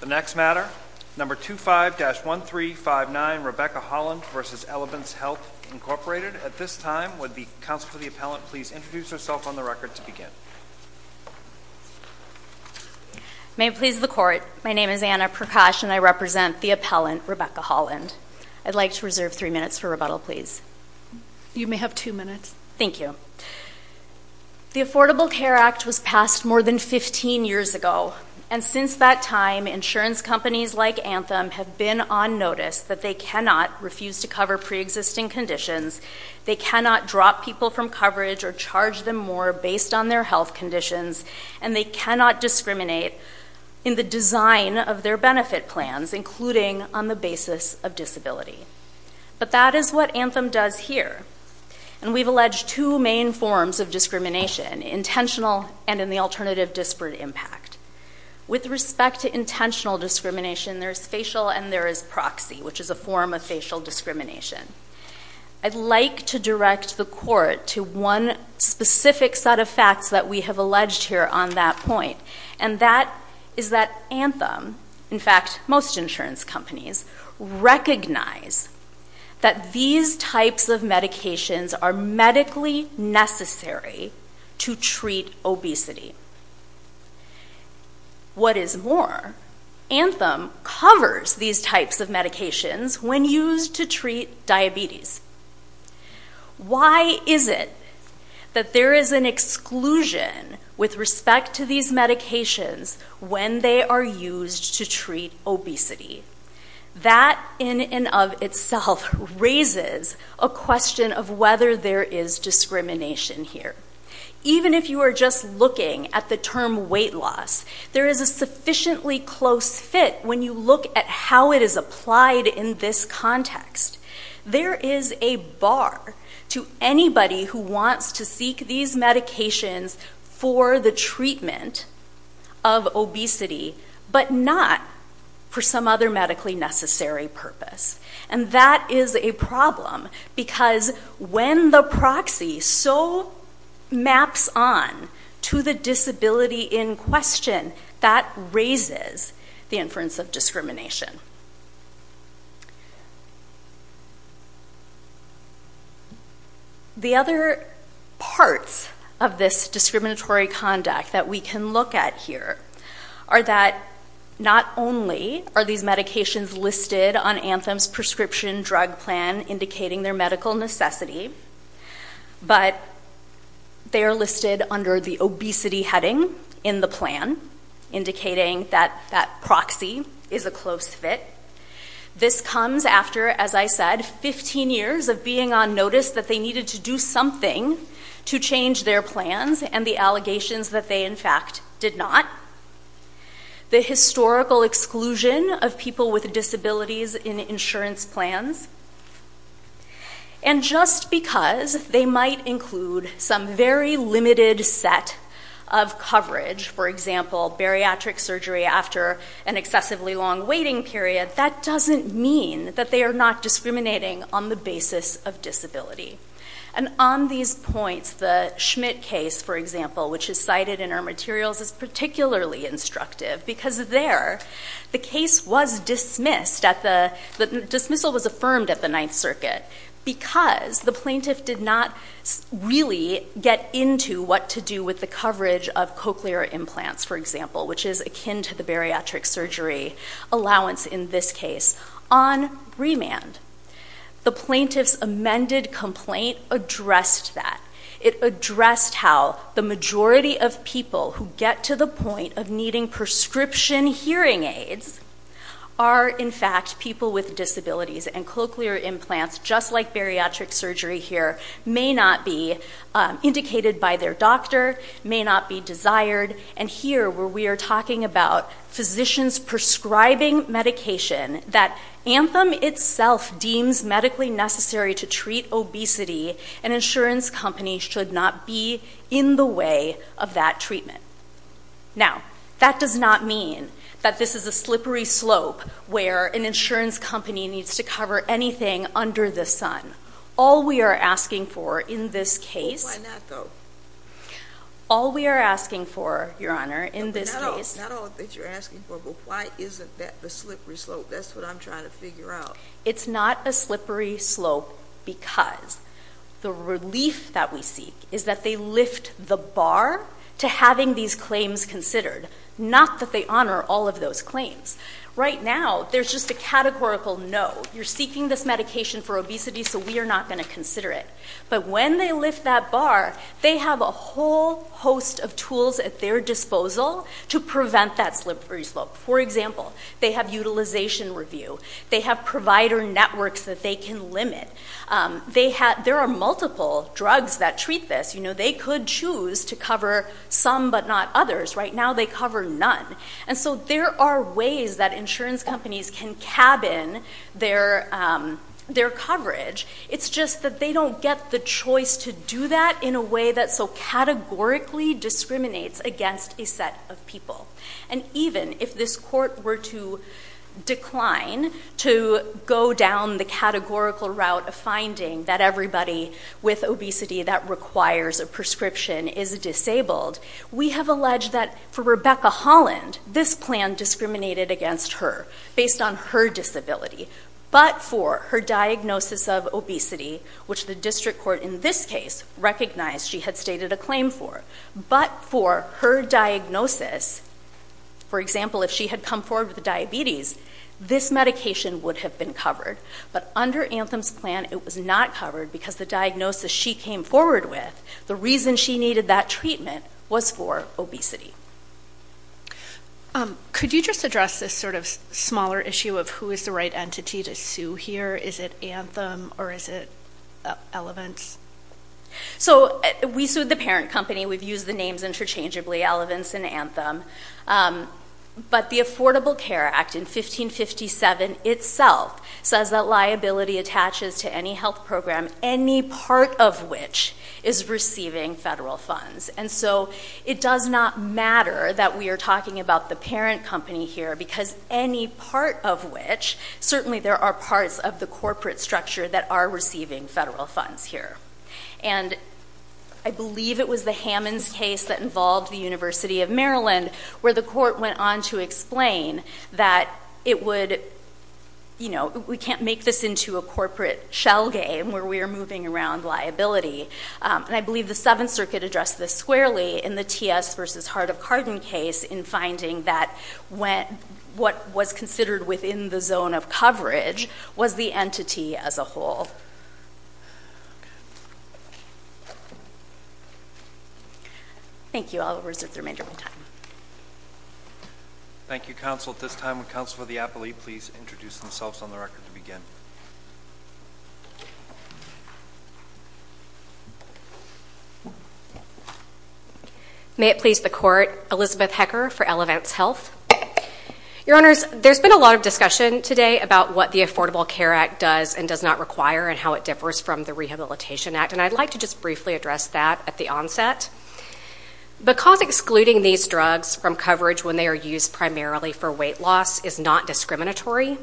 The next matter, No. 25-1359, Rebecca Holland v. Elevance Health, Inc. At this time, would the counsel for the appellant please introduce herself on the record to begin. May it please the Court, my name is Anna Prakash and I represent the appellant, Rebecca Holland. I'd like to reserve three minutes for rebuttal, please. You may have two minutes. Thank you. The Affordable Care Act was passed more than 15 years ago, and since that time, insurance companies like Anthem have been on notice that they cannot refuse to cover pre-existing conditions, they cannot drop people from coverage or charge them more based on their health conditions, and they cannot discriminate in the design of their benefit plans, including on the basis of disability. But that is what Anthem does here. And we've alleged two main forms of discrimination, intentional and in the alternative, disparate impact. With respect to intentional discrimination, there is facial and there is proxy, which is a form of facial discrimination. I'd like to direct the Court to one specific set of facts that we have alleged here on that point, and that is that Anthem, in fact, most insurance companies, recognize that these types of medications are medically necessary to treat obesity. What is more, Anthem covers these types of medications when used to treat diabetes. Why is it that there is an exclusion with respect to these medications when they are used to treat obesity? That in and of itself raises a question of whether there is discrimination here. Even if you are just looking at the term weight loss, there is a sufficiently close fit when you look at how it is applied in this context. There is a bar to anybody who wants to seek these medications for the treatment of obesity, but not for some other medically necessary purpose. And that is a problem, because when the proxy so maps on to the disability in question, that raises the inference of discrimination. The other parts of this discriminatory conduct that we can look at here are that not only are these medications listed on Anthem's prescription drug plan indicating their medical necessity, but they are listed under the obesity heading in the plan, indicating that that proxy is a close fit. This comes after, as I said, 15 years of being on notice that they needed to do something to change their plans and the allegations that they in fact did not. The historical exclusion of people with disabilities in insurance plans. And just because they might include some very limited set of coverage, for example, bariatric surgery after an excessively long waiting period, that doesn't mean that they are not discriminating on the basis of disability. And on these points, the Schmidt case, for example, which is cited in our materials, is particularly instructive, because there, the case was dismissed. The dismissal was affirmed at the Ninth Circuit, because the plaintiff did not really get into what to do with the coverage of cochlear implants, for example, which is akin to the bariatric surgery allowance in this case. On remand, the plaintiff's amended complaint addressed that. It addressed how the majority of people who get to the point of needing prescription hearing aids are in fact people with disabilities, and cochlear implants, just like bariatric surgery here, may not be indicated by their doctor, may not be desired. And here, where we are talking about physicians prescribing medication that Anthem itself deems medically necessary to treat obesity, an insurance company should not be in the way of that treatment. Now, that does not mean that this is a slippery slope where an insurance company needs to cover anything under the sun. All we are asking for in this case... Why not, though? All we are asking for, Your Honor, in this case... Not all that you're asking for, but why isn't that the slippery slope? That's what I'm trying to figure out. It's not a slippery slope because the relief that we seek is that they lift the bar to having these claims considered, not that they honor all of those claims. Right now, there's just a categorical no. You're seeking this medication for obesity, so we are not going to consider it. But when they lift that bar, they have a whole host of tools at their disposal to prevent that slippery slope. For example, they have utilization review. They have provider networks that they can limit. There are multiple drugs that treat this. They could choose to cover some but not others. Right now, they cover none. There are ways that insurance companies can cabin their coverage. It's just that they don't get the choice to do that in a way that so categorically discriminates against a set of people. Even if this court were to decline to go down the categorical route of finding that everybody with obesity that requires a prescription is disabled, we have alleged that for Rebecca Holland, this plan discriminated against her based on her disability, but for her diagnosis of obesity, which the district court in this case recognized she had stated a claim for, but for her diagnosis, for example, if she had come forward with diabetes, this medication would have been covered, but under Anthem's plan, it was not covered because the diagnosis she came forward with, the reason she needed that treatment was for obesity. Could you just address this sort of smaller issue of who is the right entity to sue here? Is it Anthem or is it Elevance? So we sued the parent company. We've used the names interchangeably, Elevance and Anthem. But the Affordable Care Act in 1557 itself says that liability attaches to any health program, any part of which is receiving federal funds. And so it does not matter that we are talking about the parent company here because any part of which, certainly there are parts of the corporate structure that are receiving federal funds here. And I believe it was the Hammons case that involved the University of Maryland where the court went on to explain that it would, you know, we can't make this into a corporate shell game where we are moving around liability. And I believe the Seventh Circuit addressed this squarely in the T.S. v. Hart of Carden case in finding that what was considered within the zone of coverage was the entity as a whole. Thank you. I'll reserve the remainder of my time. Thank you, counsel. At this time, would counsel for the appellee please introduce themselves on the record to begin? May it please the court, Elizabeth Hecker for Elevance Health. Your Honors, there's been a lot of discussion today about what the Affordable Care Act does and does not require and how it differs from the Rehabilitation Act. And I'd like to just briefly address that at the onset. Because excluding these drugs from coverage when they are used primarily for weight loss is not discriminatory,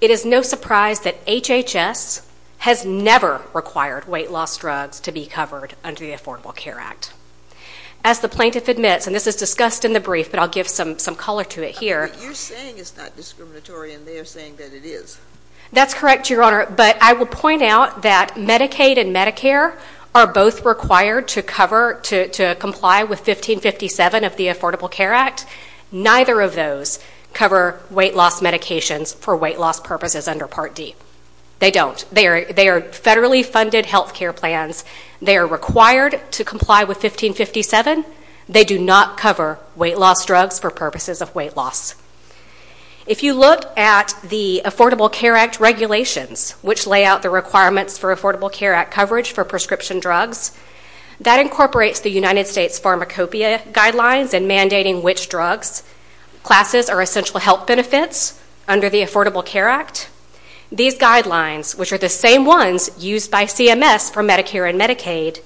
it is no surprise that HHS has never required weight loss drugs to be covered under the Affordable Care Act. As the plaintiff admits, and this is discussed in the brief, but I'll give some color to it here. You're saying it's not discriminatory and they're saying that it is. That's correct, Your Honor. But I will point out that Medicaid and Medicare are both required to cover, to comply with 1557 of the Affordable Care Act. Neither of those cover weight loss medications for weight loss purposes under Part D. They don't. They are federally funded health care plans. They are required to comply with 1557. They do not cover weight loss drugs for purposes of weight loss. If you look at the Affordable Care Act regulations, which lay out the requirements for Affordable Care Act coverage for prescription drugs, that incorporates the United States Pharmacopeia guidelines in mandating which drugs, classes or essential health benefits under the Affordable Care Act. These guidelines, which are the same ones used by CMS for Medicare and Medicaid,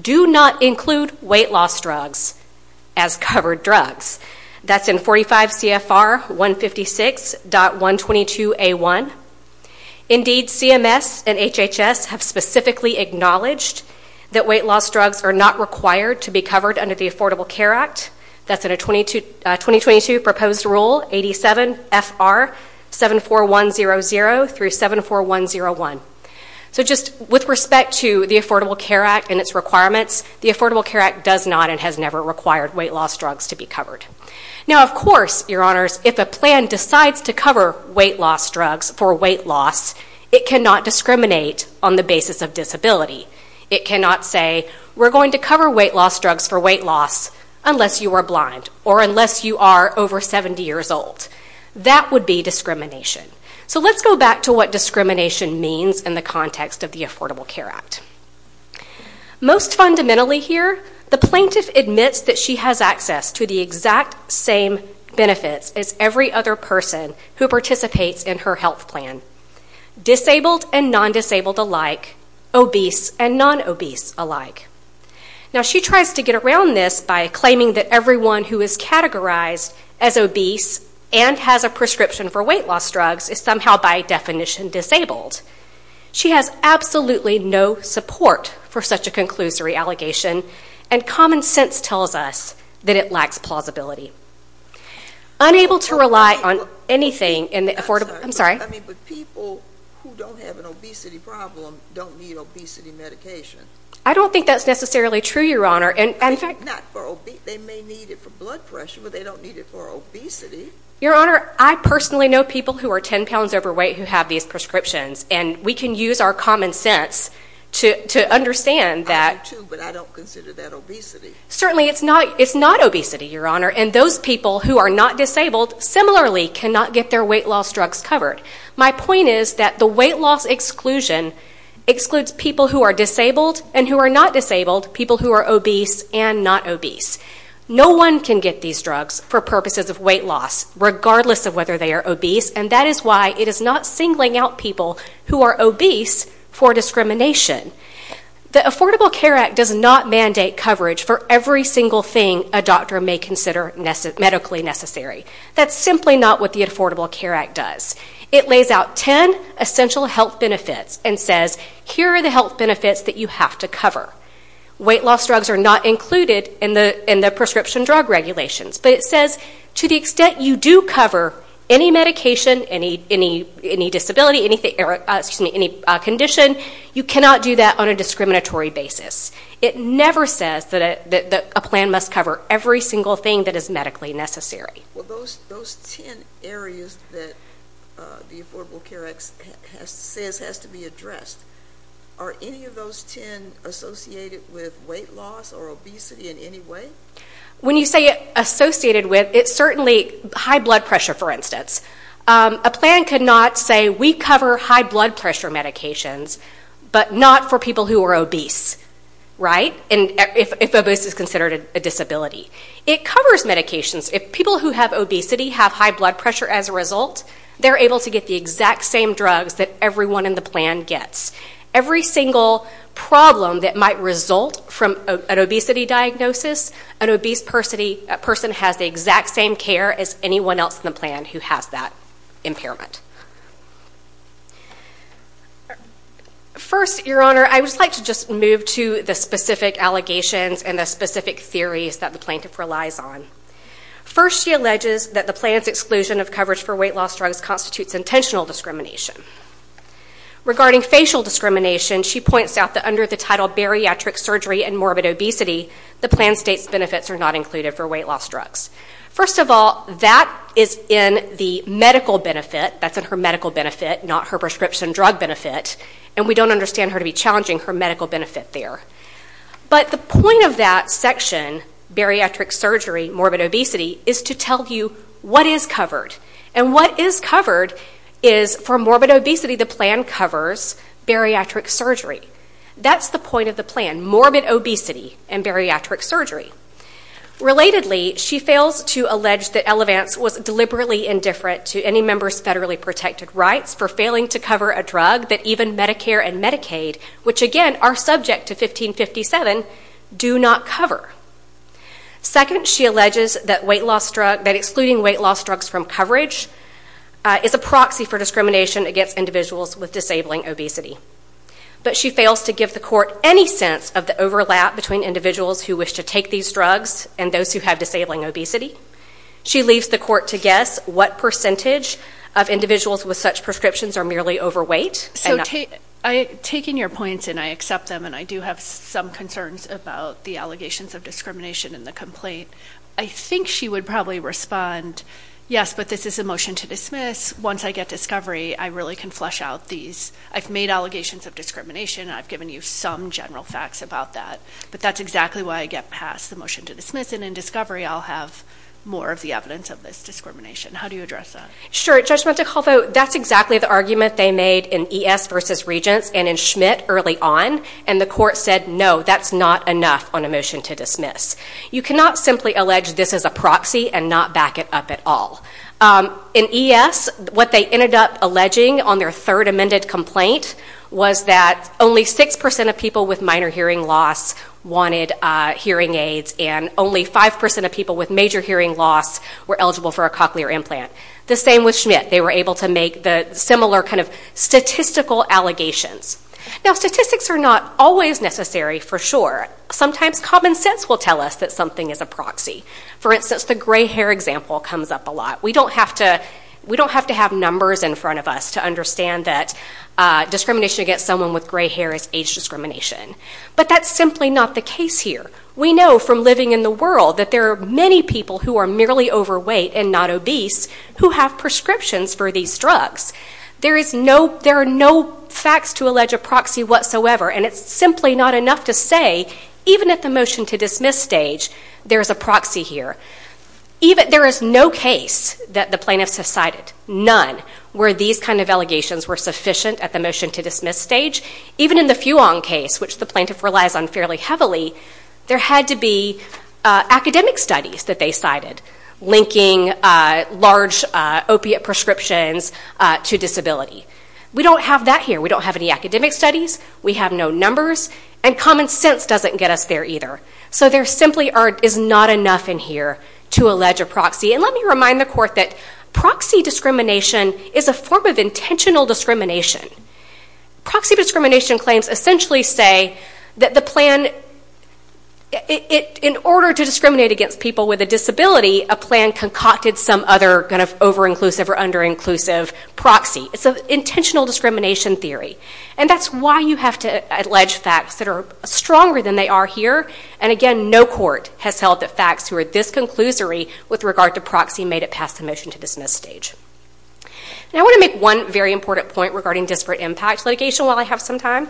do not include weight loss drugs as covered drugs. That's in 45 CFR 156.122A1. Indeed, CMS and HHS have specifically acknowledged that weight loss drugs are not required to be covered under the Affordable Care Act. That's in a 2022 proposed rule 87 FR 74100 through 74101. So just with respect to the Affordable Care Act and its requirements, the Affordable Care Act does not and has never required weight loss drugs to be covered. Now, of course, your honors, if a plan decides to cover weight loss drugs for weight loss, it cannot discriminate on the basis of disability. It cannot say, we're going to cover weight loss drugs for weight loss unless you are blind or unless you are over 70 years old. That would be discrimination. So let's go back to what discrimination means in the context of the Affordable Care Act. Most fundamentally here, the plaintiff admits that she has access to the exact same benefits as every other person who participates in her health plan, disabled and non-disabled alike, obese and non-obese alike. Now, she tries to get around this by claiming that everyone who is categorized as obese and has a prescription for weight loss drugs is somehow by definition disabled. She has absolutely no support for such a conclusory allegation and common sense tells us that it lacks plausibility. Unable to rely on anything in the Affordable... I'm sorry. I mean, but people who don't have an obesity problem don't need obesity medication. I don't think that's necessarily true, your honor. In fact... They may need it for blood pressure, but they don't need it for obesity. Your honor, I personally know people who are 10 pounds overweight who have these prescriptions and we can use our common sense to understand that... I do too, but I don't consider that obesity. Certainly it's not obesity, your honor, and those people who are not disabled similarly cannot get their weight loss drugs covered. My point is that the weight loss exclusion excludes people who are disabled and who are not disabled, people who are obese and not obese. No one can get these drugs for purposes of weight loss regardless of whether they are obese and that is why it is not singling out people who are obese for discrimination. The Affordable Care Act does not mandate coverage for every single thing a doctor may consider medically necessary. That's simply not what the Affordable Care Act does. It lays out 10 essential health benefits and says, here are the health benefits that you have to cover. Weight loss drugs are not included in the prescription drug regulations, but it says to the extent you do cover any medication, any disability, any condition, you cannot do that on a discriminatory basis. It never says that a plan must cover every single thing that is medically necessary. Well, those 10 areas that the Affordable Care Act says has to be addressed, are any of those 10 associated with weight loss or obesity in any way? When you say associated with, it's certainly high blood pressure, for instance. A plan could not say, we cover high blood pressure medications, but not for people who are obese, right, if obese is considered a disability. It covers medications. If people who have obesity have high blood pressure as a result, they're able to get the exact same drugs that everyone in the plan gets. Every single problem that might result from an obesity diagnosis, an obese person has the exact same care as anyone else in the plan who has that impairment. First, Your Honor, I would just like to move to the specific allegations and the specific theories that the plaintiff relies on. First, she alleges that the plan's exclusion of coverage for weight loss drugs constitutes intentional discrimination. Regarding facial discrimination, she points out that under the title Bariatric Surgery and Morbid Obesity, the plan states benefits are not included for weight loss drugs. First of all, that is in the medical benefit, that's in her medical benefit, not her prescription drug benefit, and we don't understand her to be challenging her medical benefit there. But the point of that section, Bariatric Surgery, Morbid Obesity, is to tell you what is covered. And what is covered is, for Morbid Obesity, the plan covers Bariatric Surgery. That's the point of the plan, Morbid Obesity and Bariatric Surgery. Relatedly, she fails to allege that Elevance was deliberately indifferent to any member's federally protected rights for failing to cover a drug that even Medicare and Medicaid, which again are subject to 1557, do not cover. Second, she alleges that excluding weight loss drugs from coverage is a proxy for discrimination against individuals with disabling obesity. But she fails to give the court any sense of the overlap between individuals who wish to take these drugs and those who have disabling obesity. She leaves the court to guess what percentage of individuals with such prescriptions are merely overweight. So taking your points, and I accept them, and I do have some concerns about the allegations of discrimination in the complaint, I think she would probably respond, yes, but this is a motion to dismiss. Once I get discovery, I really can flush out these. I've made allegations of discrimination, and I've given you some general facts about that. But that's exactly why I get past the motion to dismiss, and in discovery I'll have more of the evidence of this discrimination. How do you address that? Sure, Judge Montecalvo, that's exactly the argument they made in E.S. v. Regents and in Schmidt early on, and the court said no, that's not enough on a motion to dismiss. You cannot simply allege this is a proxy and not back it up at all. In E.S., what they ended up alleging on their third amended complaint was that only 6% of people with minor hearing loss wanted hearing aids, and only 5% of people with major hearing loss were eligible for a cochlear implant. The same with Schmidt. They were able to make the similar kind of statistical allegations. Now, statistics are not always necessary for sure. Sometimes common sense will tell us that something is a proxy. For instance, the gray hair example comes up a lot. We don't have to have numbers in front of us to understand that discrimination against someone with gray hair is age discrimination. But that's simply not the case here. We know from living in the world that there are many people who are merely overweight and not obese who have prescriptions for these drugs. There are no facts to allege a proxy whatsoever, and it's simply not enough to say, even at the motion to dismiss stage, there is a proxy here. There is no case that the plaintiffs have cited, none, where these kind of allegations were sufficient at the motion to dismiss stage. Even in the Fuon case, which the plaintiff relies on fairly heavily, there had to be academic studies that they cited linking large opiate prescriptions to disability. We don't have that here. We don't have any academic studies. We have no numbers. And common sense doesn't get us there either. So there simply is not enough in here to allege a proxy. And let me remind the court that proxy discrimination is a form of intentional discrimination. Proxy discrimination claims essentially say that the plan, in order to discriminate against people with a disability, a plan concocted some other kind of over-inclusive or under-inclusive proxy. It's an intentional discrimination theory. And that's why you have to allege facts that are stronger than they are here. And again, no court has held that facts who are disconclusory with regard to proxy made it past the motion to dismiss stage. And I want to make one very important point regarding disparate impact litigation while I have some time.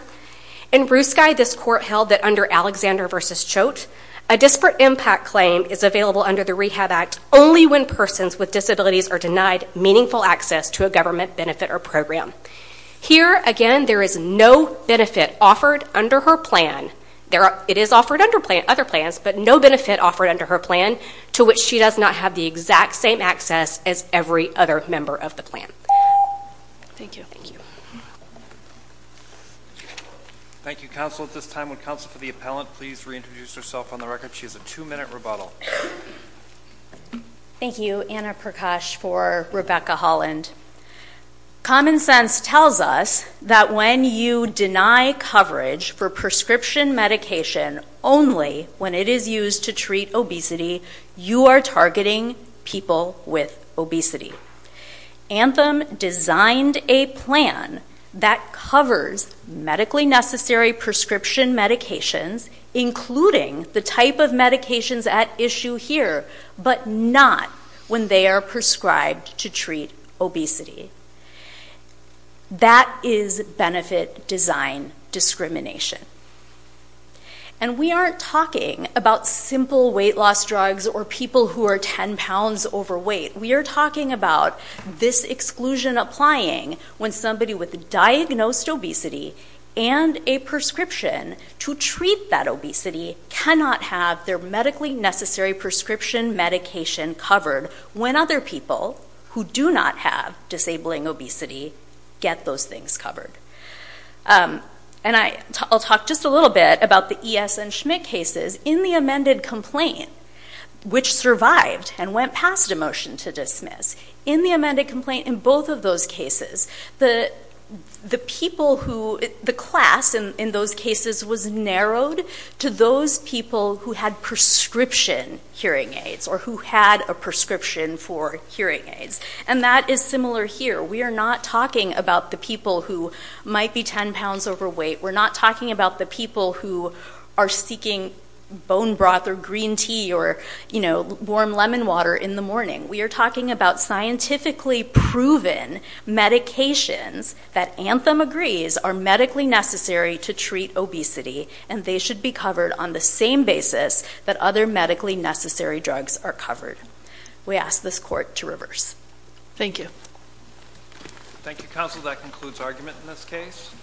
In Bruce Guy, this court held that under Alexander v. Choate, a disparate impact claim is available under the Rehab Act only when persons with disabilities are denied meaningful access to a government benefit or program. Here, again, there is no benefit offered under her plan. It is offered under other plans, but no benefit offered under her plan to which she does not have the exact same access as every other member of the plan. Thank you. Thank you, counsel. At this time, would counsel for the appellant please reintroduce herself on the record? She has a two-minute rebuttal. Thank you, Anna Prakash for Rebecca Holland. Common sense tells us that when you deny coverage for prescription medication only when it is used to treat obesity, you are targeting people with obesity. Anthem designed a plan that covers medically necessary prescription medications, including the type of medications at issue here, but not when they are prescribed to treat obesity. That is benefit design discrimination. And we aren't talking about simple weight loss drugs or people who are 10 pounds overweight. We are talking about this exclusion applying when somebody with diagnosed obesity and a prescription to treat that obesity cannot have their medically necessary prescription medication covered when other people who do not have disabling obesity get those things covered. And I'll talk just a little bit about the E.S. and Schmidt cases. In the amended complaint, which survived and went past a motion to dismiss, in the amended complaint in both of those cases, the class in those cases was narrowed to those people who had prescription hearing aids or who had a prescription for hearing aids. And that is similar here. We are not talking about the people who might be 10 pounds overweight. We're not talking about the people who are seeking bone broth or green tea or warm lemon water in the morning. We are talking about scientifically proven medications that Anthem agrees are medically necessary to treat obesity and they should be covered on the same basis that other medically necessary drugs are covered. We ask this Court to reverse. Thank you. Thank you, Counsel. That concludes argument in this case.